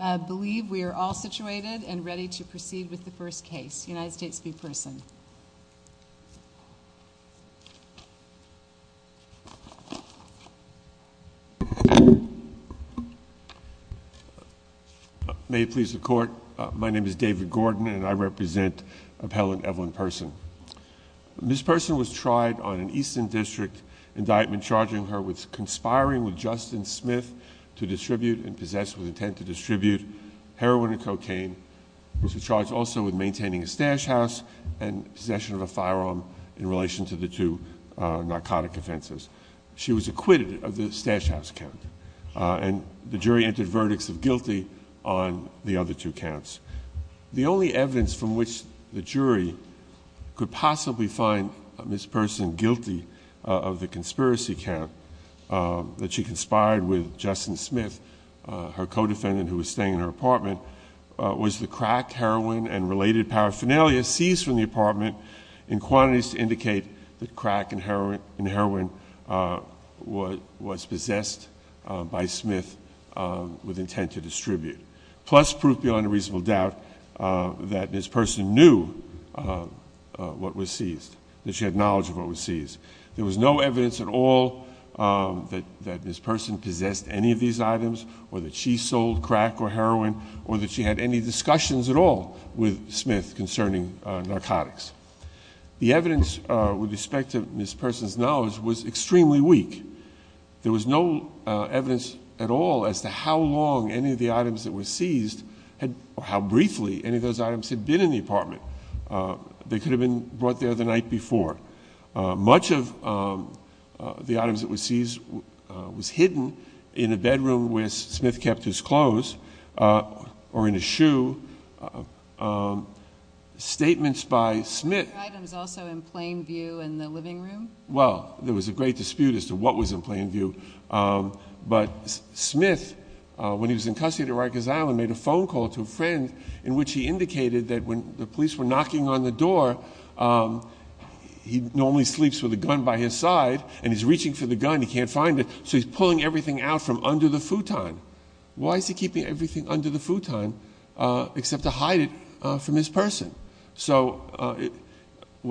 I believe we are all situated and ready to proceed with the first case. United States v. Persson. May it please the court, my name is David Gordon and I represent Appellant Evelyn Persson. Ms. Persson was tried on an Eastern District indictment charging her with conspiring with Justin Smith to distribute and possess with intent to distribute heroin and cocaine. She was charged also with maintaining a stash house and possession of a firearm in relation to the two narcotic offenses. She was acquitted of the stash house count and the jury entered verdicts of guilty on the other two counts. The only evidence from which the jury could possibly find Ms. Persson guilty of the conspiracy count that she conspired with Justin Smith, her co-defendant who was staying in her apartment, was the crack, heroin, and related paraphernalia seized from the apartment in quantities to indicate that crack and heroin was possessed by Smith with intent to distribute. Plus proof beyond a reasonable doubt that Ms. Persson knew what was seized, that she had knowledge of what was seized. There was no evidence at all that Ms. Persson possessed any of these items or that she sold crack or heroin or that she had any discussions at all with Smith concerning narcotics. The evidence with respect to Ms. Persson's knowledge was extremely weak. There was no evidence at all as to how long any of the items that were seized or how briefly any of those items had been in the apartment. They could have been brought there the night before. Much of the items that were seized was hidden in a bedroom where Smith kept his clothes or in a shoe. Statements by Smith. Were the items also in plain view in the living room? Well, there was a great dispute as to what was in plain view. But Smith, when he was in custody at Arrakis Island, made a phone call to a friend in which he indicated that when the police were knocking on the door, he normally sleeps with a gun by his side and he's reaching for the gun. He can't find it. So he's pulling everything out from under the futon. Why is he keeping everything under the futon except to hide it from his person? I think you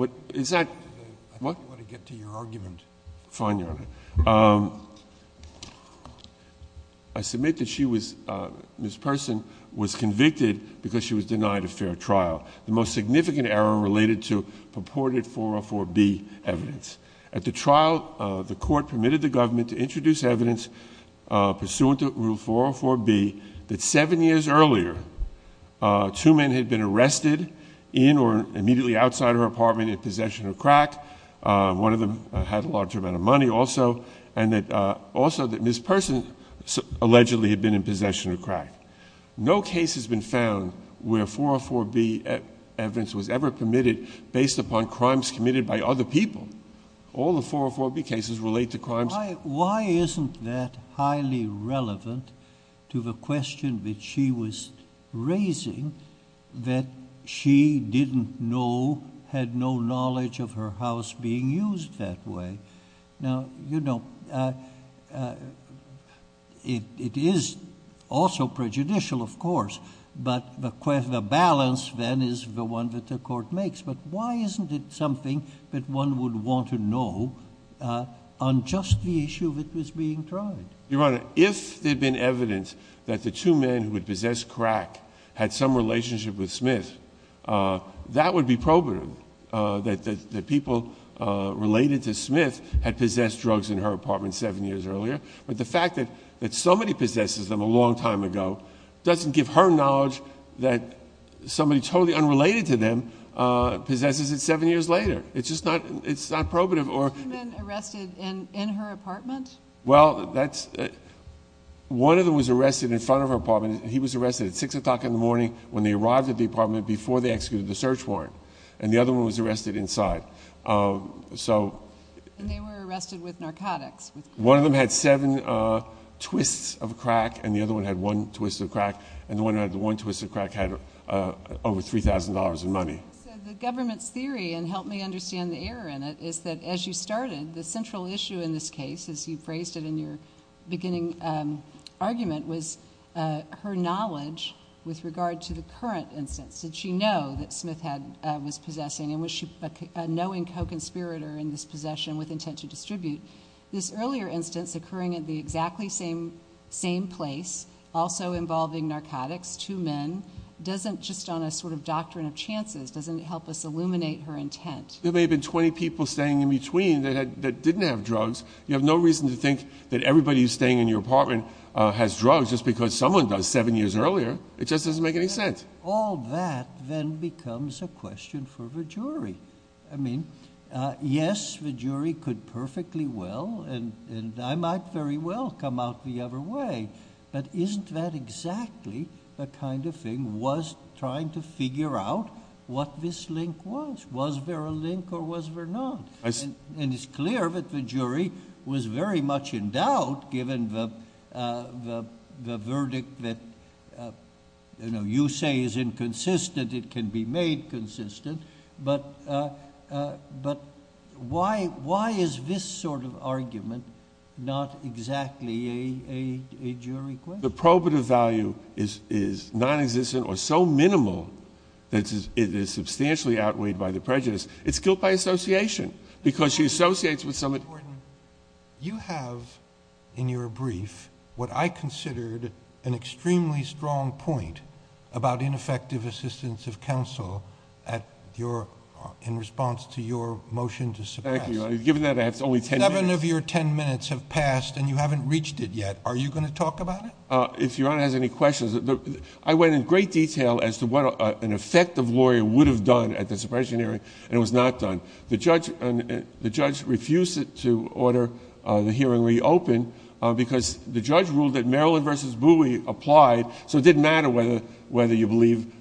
want to get to your argument. Fine, Your Honor. I submit that Ms. Persson was convicted because she was denied a fair trial. The most significant error related to purported 404B evidence. At the trial, the court permitted the government to introduce evidence pursuant to Rule 404B that seven years earlier, two men had been arrested in or immediately outside her apartment in possession of crack. One of them had a large amount of money also. And also that Ms. Persson allegedly had been in possession of crack. No case has been found where 404B evidence was ever permitted based upon crimes committed by other people. Why isn't that highly relevant to the question that she was raising that she didn't know, had no knowledge of her house being used that way? Now, you know, it is also prejudicial, of course. But the balance then is the one that the court makes. But why isn't it something that one would want to know on just the issue that was being tried? Your Honor, if there had been evidence that the two men who had possessed crack had some relationship with Smith, that would be probative that the people related to Smith had possessed drugs in her apartment seven years earlier. But the fact that somebody possesses them a long time ago doesn't give her knowledge that somebody totally unrelated to them possesses it seven years later. It's just not probative. Were two men arrested in her apartment? Well, one of them was arrested in front of her apartment. He was arrested at 6 o'clock in the morning when they arrived at the apartment before they executed the search warrant. And the other one was arrested inside. And they were arrested with narcotics. One of them had seven twists of crack, and the other one had one twist of crack. And the one who had the one twist of crack had over $3,000 in money. So the government's theory, and help me understand the error in it, is that as you started, the central issue in this case, as you phrased it in your beginning argument, was her knowledge with regard to the current instance. Did she know that Smith was possessing? And was she a knowing co-conspirator in this possession with intent to distribute? This earlier instance occurring at the exactly same place, also involving narcotics, two men, doesn't, just on a sort of doctrine of chances, doesn't help us illuminate her intent. There may have been 20 people staying in between that didn't have drugs. You have no reason to think that everybody who's staying in your apartment has drugs just because someone does seven years earlier. It just doesn't make any sense. All that then becomes a question for the jury. I mean, yes, the jury could perfectly well, and I might very well come out the other way, but isn't that exactly the kind of thing was trying to figure out what this link was? Was there a link or was there not? And it's clear that the jury was very much in doubt, given the verdict that, you know, you say is inconsistent, it can be made consistent, but why is this sort of argument not exactly a jury question? The probative value is nonexistent or so minimal that it is substantially outweighed by the prejudice. It's killed by association because she associates with someone. Your Honor, you have in your brief what I considered an extremely strong point about ineffective assistance of counsel in response to your motion to suppress. Thank you. Given that I have only ten minutes. Seven of your ten minutes have passed and you haven't reached it yet. Are you going to talk about it? If Your Honor has any questions, I went in great detail as to what an effective lawyer would have done at the suppression hearing, and it was not done. The judge refused to order the hearing reopened because the judge ruled that Maryland v. Bowie applied, so it didn't matter whether you believe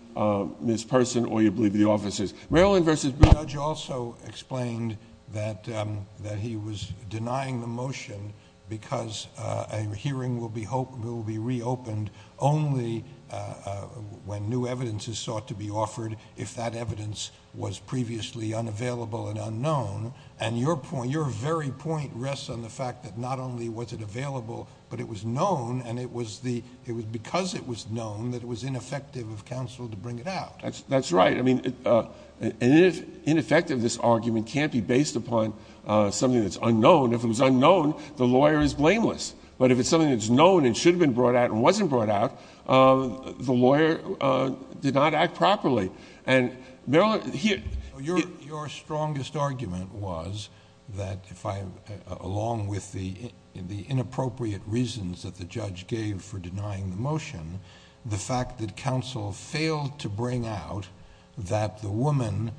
Ms. Person or you believe the officers. Maryland v. Bowie. The judge also explained that he was denying the motion because a hearing will be reopened only when new evidence is sought to be offered. If that evidence was previously unavailable and unknown, and your very point rests on the fact that not only was it available, but it was known, and it was because it was known, that it was ineffective of counsel to bring it out. That's right. I mean, ineffectiveness argument can't be based upon something that's unknown. If it was unknown, the lawyer is blameless. But if it's something that's known and should have been brought out and wasn't brought out, the lawyer did not act properly. Your strongest argument was that, along with the inappropriate reasons that the judge gave for denying the motion, the fact that counsel failed to bring out that the woman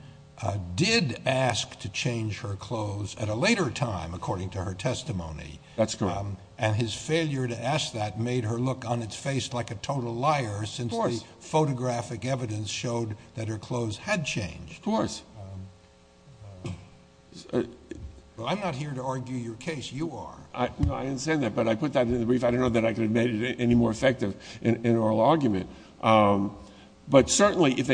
did ask to change her clothes at a later time, according to her testimony. That's correct. And his failure to ask that made her look on its face like a total liar. Of course. Since the photographic evidence showed that her clothes had changed. Of course. Well, I'm not here to argue your case. You are. No, I didn't say that, but I put that in the brief. I don't know that I could have made it any more effective in an oral argument. But certainly, if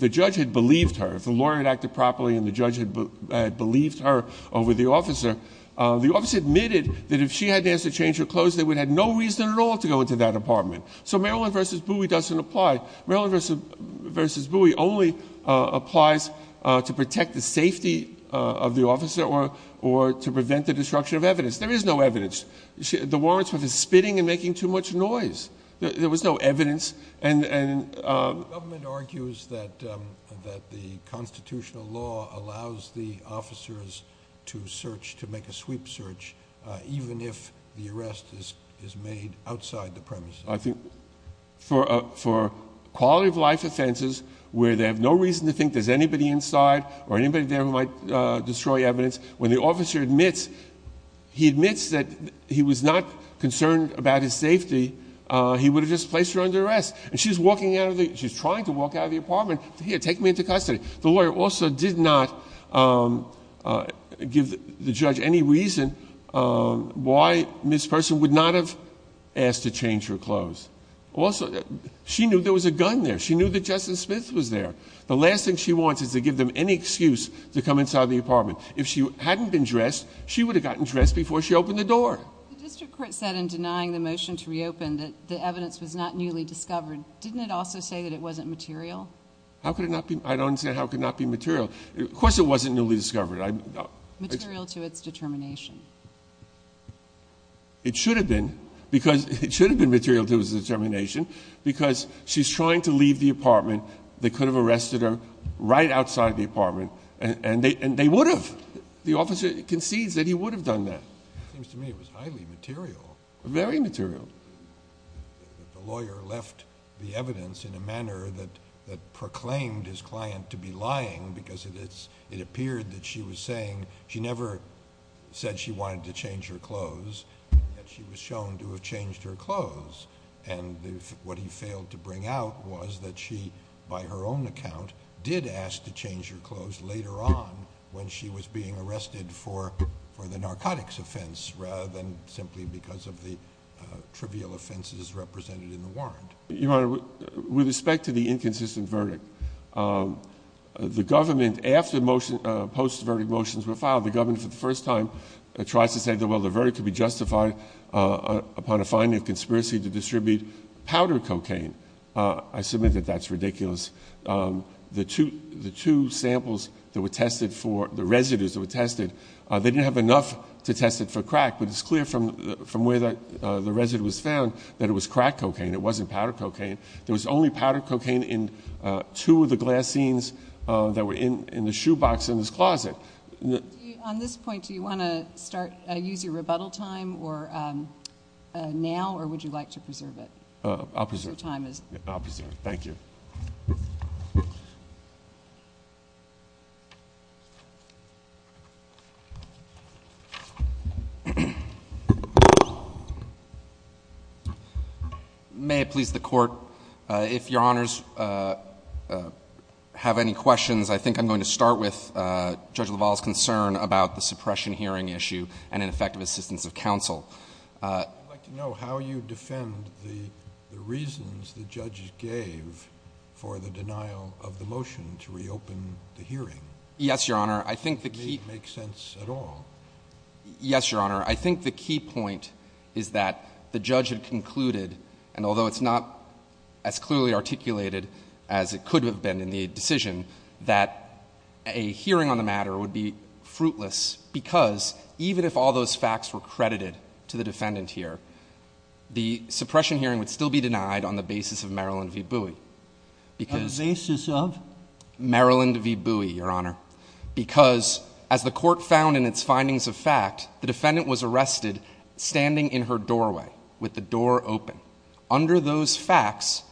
the judge had believed her, if the lawyer had acted properly and the judge had believed her over the officer, the officer admitted that if she hadn't asked to change her clothes, they would have had no reason at all to go into that apartment. So Maryland v. Bowie doesn't apply. Maryland v. Bowie only applies to protect the safety of the officer or to prevent the destruction of evidence. There is no evidence. The warrants were for spitting and making too much noise. There was no evidence. The government argues that the constitutional law allows the officers to search, to make a sweep search, even if the arrest is made outside the premises. I think for quality of life offenses where they have no reason to think there's anybody inside or anybody there who might destroy evidence, when the officer admits that he was not concerned about his safety, he would have just placed her under arrest. And she's trying to walk out of the apartment to, here, take me into custody. The lawyer also did not give the judge any reason why this person would not have asked to change her clothes. She knew there was a gun there. She knew that Justin Smith was there. The last thing she wants is to give them any excuse to come inside the apartment. If she hadn't been dressed, she would have gotten dressed before she opened the door. The district court said in denying the motion to reopen that the evidence was not newly discovered. Didn't it also say that it wasn't material? How could it not be? I don't understand how it could not be material. Of course it wasn't newly discovered. Material to its determination. It should have been, because it should have been material to its determination, because she's trying to leave the apartment. They could have arrested her right outside the apartment, and they would have. The officer concedes that he would have done that. It seems to me it was highly material. Very material. The lawyer left the evidence in a manner that proclaimed his client to be lying, because it appeared that she was saying she never said she wanted to change her clothes, yet she was shown to have changed her clothes. And what he failed to bring out was that she, by her own account, did ask to change her clothes later on when she was being arrested for the narcotics offense rather than simply because of the trivial offenses represented in the warrant. Your Honor, with respect to the inconsistent verdict, the government, after post-verdict motions were filed, the government for the first time tries to say, well, the verdict could be justified upon a finding of conspiracy to distribute powder cocaine. I submit that that's ridiculous. The two samples that were tested for, the residues that were tested, they didn't have enough to test it for crack, but it's clear from where the residue was found that it was crack cocaine. It wasn't powder cocaine. There was only powder cocaine in two of the glass scenes that were in the shoebox in this closet. On this point, do you want to use your rebuttal time now, or would you like to preserve it? I'll preserve it. Your time is up. I'll preserve it. Thank you. May it please the Court, if Your Honors have any questions, I think I'm going to start with Judge LaValle's concern about the suppression hearing issue and ineffective assistance of counsel. I'd like to know how you defend the reasons the judges gave for the denial of the motion to reopen the hearing. Yes, Your Honor. It doesn't make sense at all. Yes, Your Honor. I think the key point is that the judge had concluded, and although it's not as clearly articulated as it could have been in the decision, that a hearing on the matter would be fruitless because even if all those facts were credited to the defendant here, the suppression hearing would still be denied on the basis of Marilyn V. Bowie. On the basis of? Marilyn V. Bowie, Your Honor. Because as the Court found in its findings of fact, the defendant was arrested standing in her doorway with the door open. Under those facts,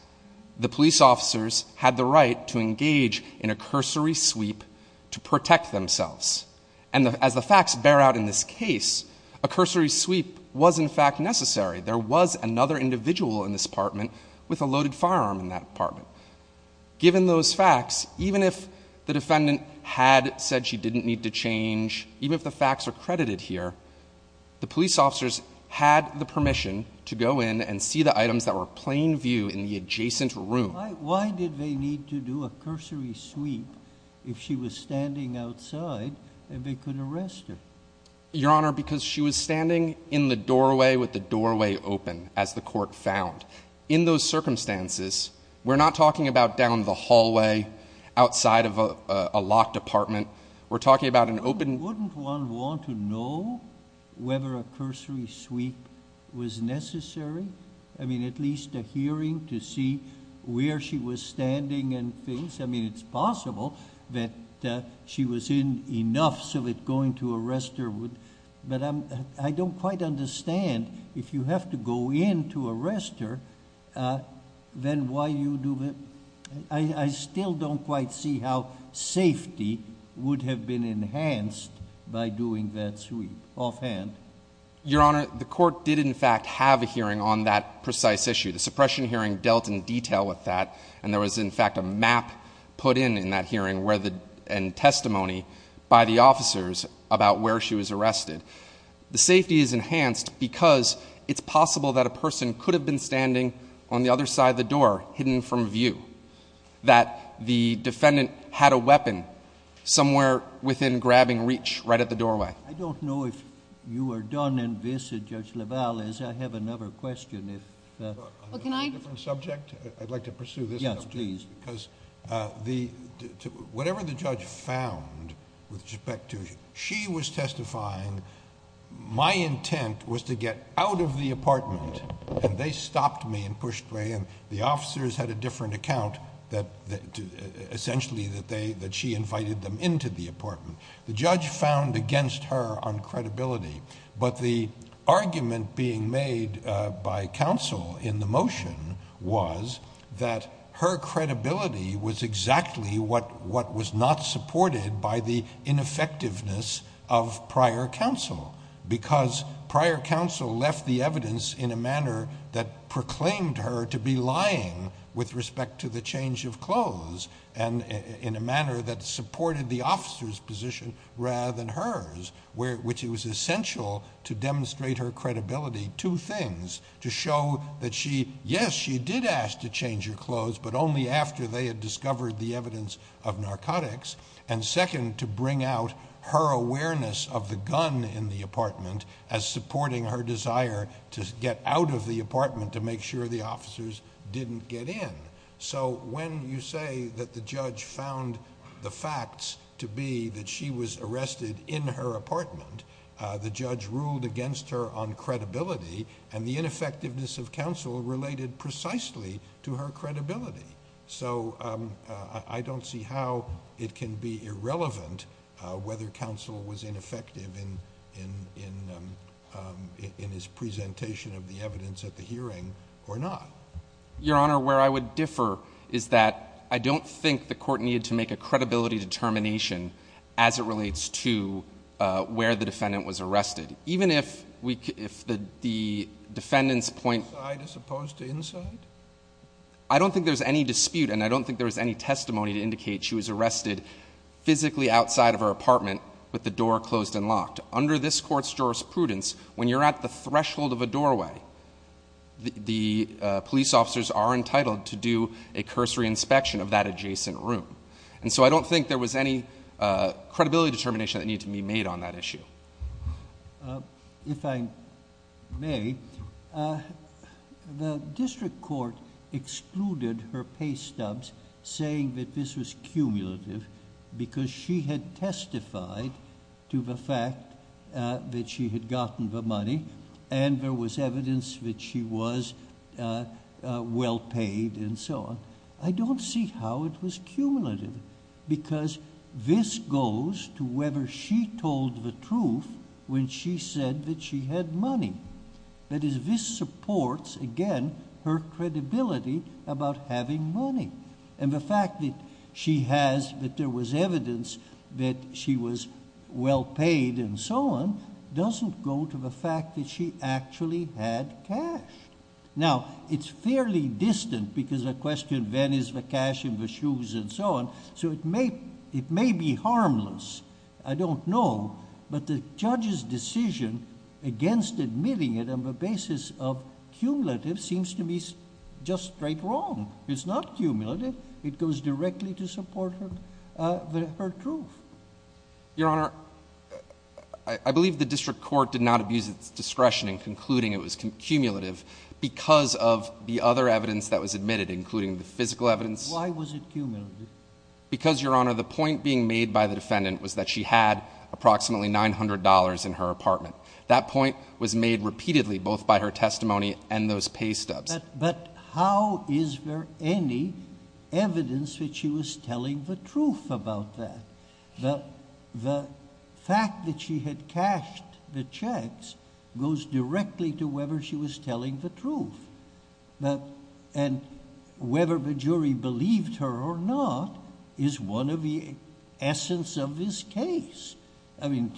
the police officers had the right to engage in a cursory sweep to protect themselves. And as the facts bear out in this case, a cursory sweep was in fact necessary. There was another individual in this apartment with a loaded firearm in that apartment. Given those facts, even if the defendant had said she didn't need to change, even if the facts are credited here, the police officers had the permission to go in and see the items that were plain view in the adjacent room. Why did they need to do a cursory sweep if she was standing outside and they could arrest her? Your Honor, because she was standing in the doorway with the doorway open, as the Court found. In those circumstances, we're not talking about down the hallway outside of a locked apartment. We're talking about an open... Wouldn't one want to know whether a cursory sweep was necessary? I mean, at least a hearing to see where she was standing and things. I mean, it's possible that she was in enough so that going to arrest her would... But I don't quite understand if you have to go in to arrest her, then why you do... I still don't quite see how safety would have been enhanced by doing that sweep offhand. Your Honor, the Court did, in fact, have a hearing on that precise issue. The suppression hearing dealt in detail with that. And there was, in fact, a map put in in that hearing and testimony by the officers about where she was arrested. The safety is enhanced because it's possible that a person could have been standing on the other side of the door, hidden from view, that the defendant had a weapon somewhere within grabbing reach right at the doorway. I don't know if you are done in this, Judge LaValle, as I have another question. On a different subject, I'd like to pursue this. Yes, please. Because whatever the judge found with respect to she was testifying, my intent was to get out of the apartment, and they stopped me and pushed me, and the officers had a different account, essentially, that she invited them into the apartment. The judge found against her on credibility. But the argument being made by counsel in the motion was that her credibility was exactly what was not supported by the ineffectiveness of prior counsel, because prior counsel left the evidence in a manner that proclaimed her to be lying with respect to the change of clothes and in a manner that supported the officer's position rather than hers, which was essential to demonstrate her credibility, two things, to show that she, yes, she did ask to change her clothes, but only after they had discovered the evidence of narcotics, and second, to bring out her awareness of the gun in the apartment as supporting her desire to get out of the apartment to make sure the officers didn't get in. So when you say that the judge found the facts to be that she was arrested in her apartment, the judge ruled against her on credibility, and the ineffectiveness of counsel related precisely to her credibility. So I don't see how it can be irrelevant whether counsel was ineffective in his presentation of the evidence at the hearing or not. Your Honor, where I would differ is that I don't think the court needed to make a credibility determination as it relates to where the defendant was arrested. Even if the defendant's point— Inside as opposed to inside? I don't think there's any dispute, and I don't think there was any testimony to indicate she was arrested physically outside of her apartment with the door closed and locked. Under this court's jurisprudence, when you're at the threshold of a doorway, the police officers are entitled to do a cursory inspection of that adjacent room. And so I don't think there was any credibility determination that needed to be made on that issue. If I may, the district court excluded her pay stubs, saying that this was cumulative because she had testified to the fact that she had gotten the money, and there was evidence that she was well paid, and so on. I don't see how it was cumulative because this goes to whether she told the truth when she said that she had money. That is, this supports, again, her credibility about having money. And the fact that she has—that there was evidence that she was well paid and so on doesn't go to the fact that she actually had cash. Now, it's fairly distant because the question, when is the cash in the shoes and so on, so it may be harmless. I don't know. But the judge's decision against admitting it on the basis of cumulative seems to me just straight wrong. It's not cumulative. It goes directly to support her truth. Your Honor, I believe the district court did not abuse its discretion in concluding it was cumulative because of the other evidence that was admitted, including the physical evidence. Why was it cumulative? Because, Your Honor, the point being made by the defendant was that she had approximately $900 in her apartment. That point was made repeatedly, both by her testimony and those pay stubs. But how is there any evidence that she was telling the truth about that? The fact that she had cashed the checks goes directly to whether she was telling the truth. And whether the jury believed her or not is one of the essence of this case. I mean,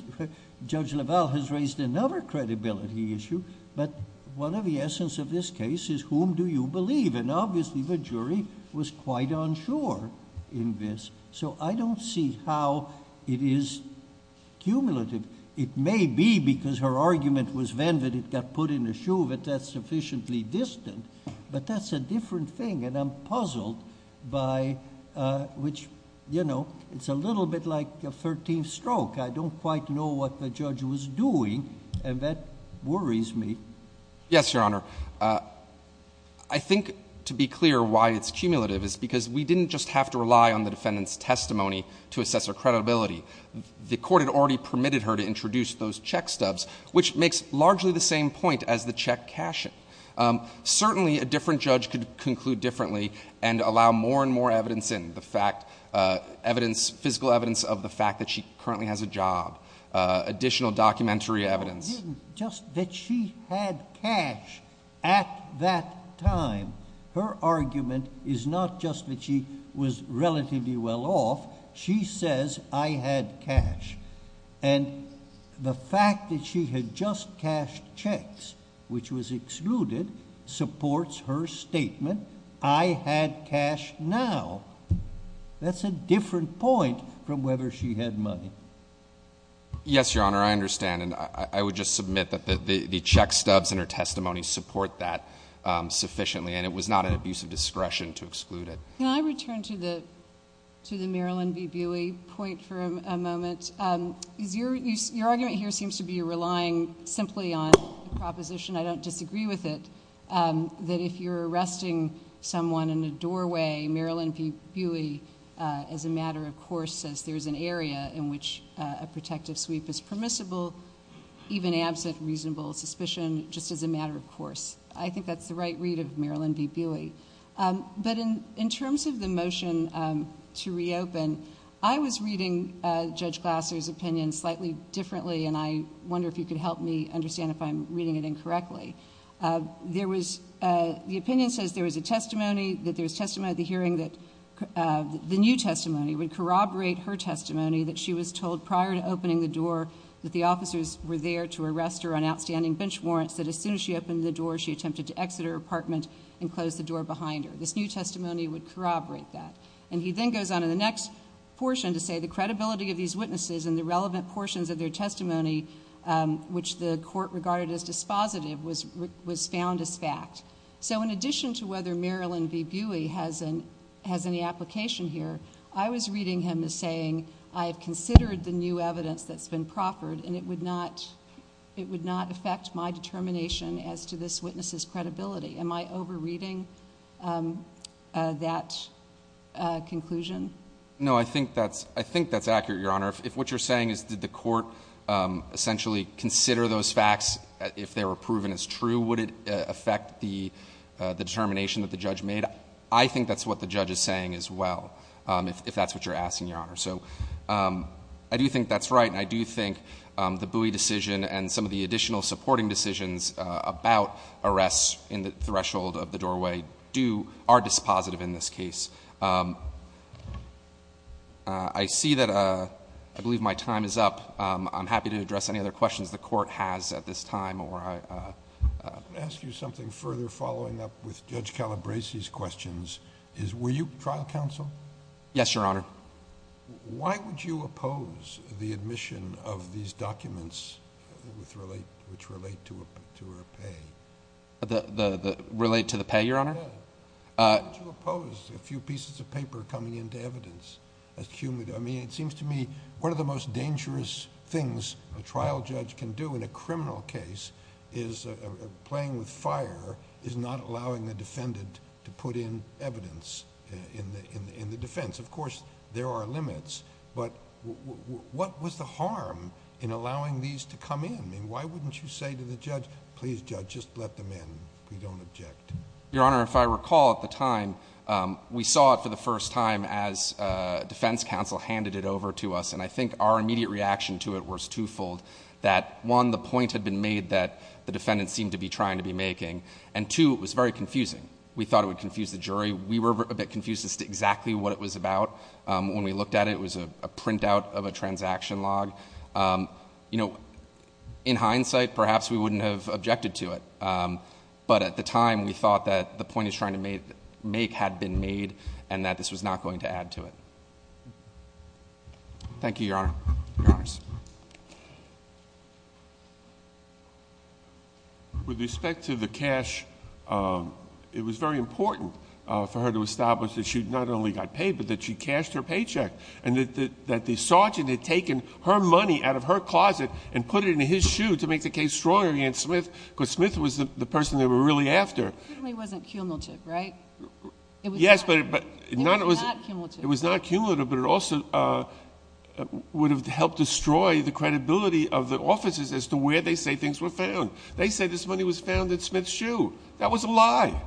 Judge LaValle has raised another credibility issue, but one of the essence of this case is whom do you believe? And obviously, the jury was quite unsure in this, so I don't see how it is cumulative. It may be because her argument was then that it got put in the shoe that that's sufficiently distant, but that's a different thing. And I'm puzzled by which, you know, it's a little bit like a 13th stroke. I don't quite know what the judge was doing, and that worries me. Yes, Your Honor. I think, to be clear, why it's cumulative is because we didn't just have to rely on the defendant's testimony to assess her credibility. The court had already permitted her to introduce those check stubs, which makes largely the same point as the check cashing. Certainly, a different judge could conclude differently and allow more and more evidence in, the fact, evidence, physical evidence of the fact that she currently has a job, additional documentary evidence. Just that she had cash at that time, her argument is not just that she was relatively well off. She says, I had cash. And the fact that she had just cashed checks, which was excluded, supports her statement, I had cash now. That's a different point from whether she had money. Yes, Your Honor, I understand, and I would just submit that the check stubs in her testimony support that sufficiently, and it was not an abuse of discretion to exclude it. Can I return to the Marilyn B. Buey point for a moment? Your argument here seems to be relying simply on a proposition, I don't disagree with it, that if you're arresting someone in a doorway, Marilyn B. Buey, as a matter of course, says there's an area in which a protective sweep is permissible, even absent reasonable suspicion, just as a matter of course. I think that's the right read of Marilyn B. Buey. But in terms of the motion to reopen, I was reading Judge Glasser's opinion slightly differently, and I wonder if you could help me understand if I'm reading it incorrectly. The opinion says there was a testimony, that there was testimony at the hearing, that the new testimony would corroborate her testimony that she was told prior to opening the door that the officers were there to arrest her on outstanding bench warrants, that as soon as she opened the door, she attempted to exit her apartment and close the door behind her. This new testimony would corroborate that. And he then goes on in the next portion to say the credibility of these witnesses and the relevant portions of their testimony, which the court regarded as dispositive, was found as fact. So in addition to whether Marilyn B. Buey has any application here, I was reading him as saying, I have considered the new evidence that's been proffered, and it would not affect my determination as to this witness's credibility. Am I over-reading that conclusion? No, I think that's accurate, Your Honor. If what you're saying is did the court essentially consider those facts if they were proven as true, would it affect the determination that the judge made? I think that's what the judge is saying as well, if that's what you're asking, Your Honor. So I do think that's right, and I do think the Buey decision and some of the additional supporting decisions about arrests in the threshold of the doorway are dispositive in this case. I see that I believe my time is up. I'm happy to address any other questions the court has at this time. I'm going to ask you something further following up with Judge Calabresi's questions. Were you trial counsel? Yes, Your Honor. Why would you oppose the admission of these documents which relate to her pay? Relate to the pay, Your Honor? Why would you oppose a few pieces of paper coming into evidence? I mean, it seems to me one of the most dangerous things a trial judge can do in a criminal case is playing with fire, is not allowing the defendant to put in evidence in the defense. Of course, there are limits, but what was the harm in allowing these to come in? I mean, why wouldn't you say to the judge, please, judge, just let them in. We don't object. Your Honor, if I recall at the time, we saw it for the first time as defense counsel handed it over to us, and I think our immediate reaction to it was twofold, that one, the point had been made that the defendant seemed to be trying to be making, and two, it was very confusing. We thought it would confuse the jury. We were a bit confused as to exactly what it was about. When we looked at it, it was a printout of a transaction log. You know, in hindsight, perhaps we wouldn't have objected to it, but at the time we thought that the point it was trying to make had been made and that this was not going to add to it. Thank you, Your Honor. Your Honors. With respect to the cash, it was very important for her to establish that she not only got paid, but that she cashed her paycheck and that the sergeant had taken her money out of her closet and put it in his shoe to make the case stronger against Smith, because Smith was the person they were really after. It certainly wasn't cumulative, right? Yes, but it was not cumulative, but it also would have helped destroy the credibility of the officers as to where they say things were found. They say this money was found in Smith's shoe. That was a lie.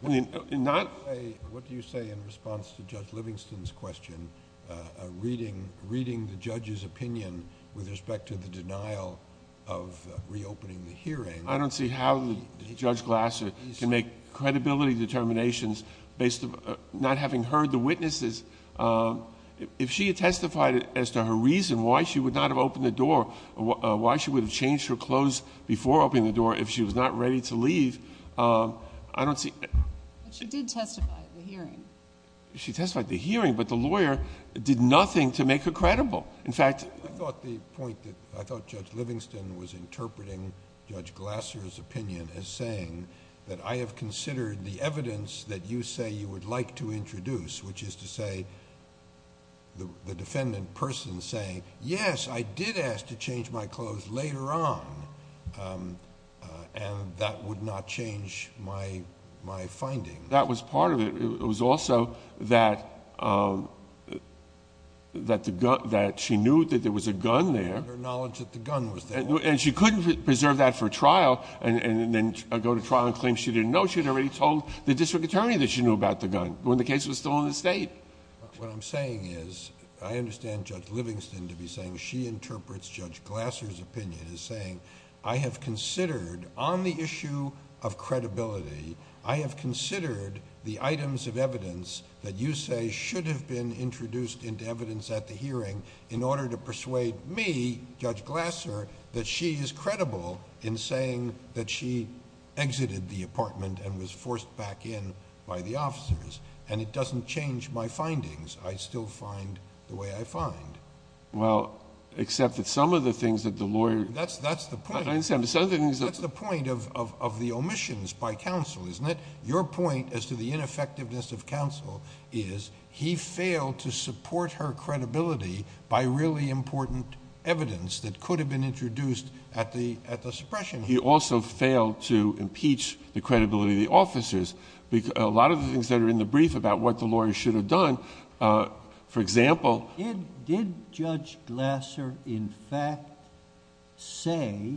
What do you say in response to Judge Livingston's question, reading the judge's opinion with respect to the denial of reopening the hearing? I don't see how Judge Glasser can make credibility determinations based on not having heard the witnesses. If she had testified as to her reason why she would not have opened the door, why she would have changed her clothes before opening the door if she was not ready to leave, I don't see... But she did testify at the hearing. She testified at the hearing, but the lawyer did nothing to make her credible. I thought Judge Livingston was interpreting Judge Glasser's opinion as saying that I have considered the evidence that you say you would like to introduce, which is to say the defendant person saying, yes, I did ask to change my clothes later on, and that would not change my finding. That was part of it. It was also that she knew that there was a gun there... And her knowledge that the gun was there. And she couldn't preserve that for trial and then go to trial and claim she didn't know. She had already told the district attorney that she knew about the gun when the case was still in the state. What I'm saying is, I understand Judge Livingston to be saying she interprets Judge Glasser's opinion as saying, I have considered, on the issue of credibility, I have considered the items of evidence that you say should have been introduced into evidence at the hearing in order to persuade me, Judge Glasser, that she is credible in saying that she exited the apartment and was forced back in by the officers. And it doesn't change my findings. I still find the way I find. Well, except that some of the things that the lawyer... That's the point. I understand, but some of the things... That's the point of the omissions by counsel, isn't it? Your point as to the ineffectiveness of counsel is he failed to support her credibility by really important evidence that could have been introduced at the suppression hearing. He also failed to impeach the credibility of the officers. A lot of the things that are in the brief about what the lawyer should have done, for example... Did Judge Glasser, in fact, say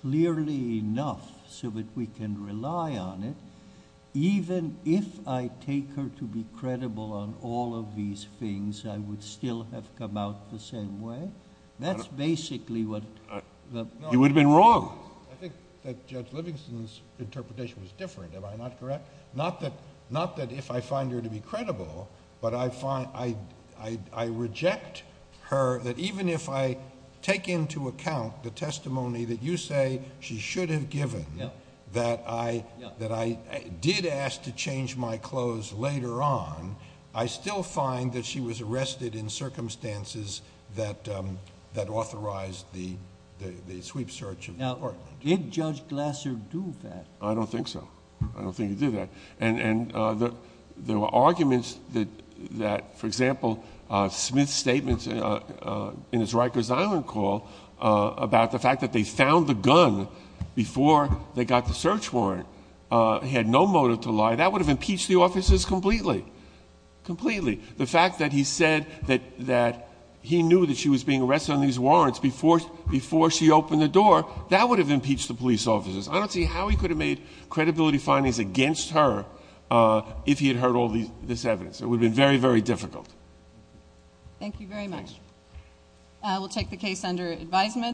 clearly enough so that we can rely on it, even if I take her to be credible on all of these things, I would still have come out the same way? That's basically what... You would have been wrong. I think that Judge Livingston's interpretation was different. Am I not correct? Not that if I find her to be credible, but I find... I reject her that even if I take into account the testimony that you say she should have given, that I did ask to change my clothes later on, I still find that she was arrested in circumstances that authorized the sweep search of the apartment. Did Judge Glasser do that? I don't think so. I don't think he did that. And, there were arguments that, for example, Smith's statement in his Rikers Island call about the fact that they found the gun before they got the search warrant. He had no motive to lie. That would have impeached the officers completely. Completely. The fact that he said that he knew that she was being arrested on these warrants before she opened the door, that would have impeached the police officers. I don't see how he could have made credibility findings against her if he had heard all this evidence. It would have been very, very difficult. Thank you very much. We'll take the case under advisement.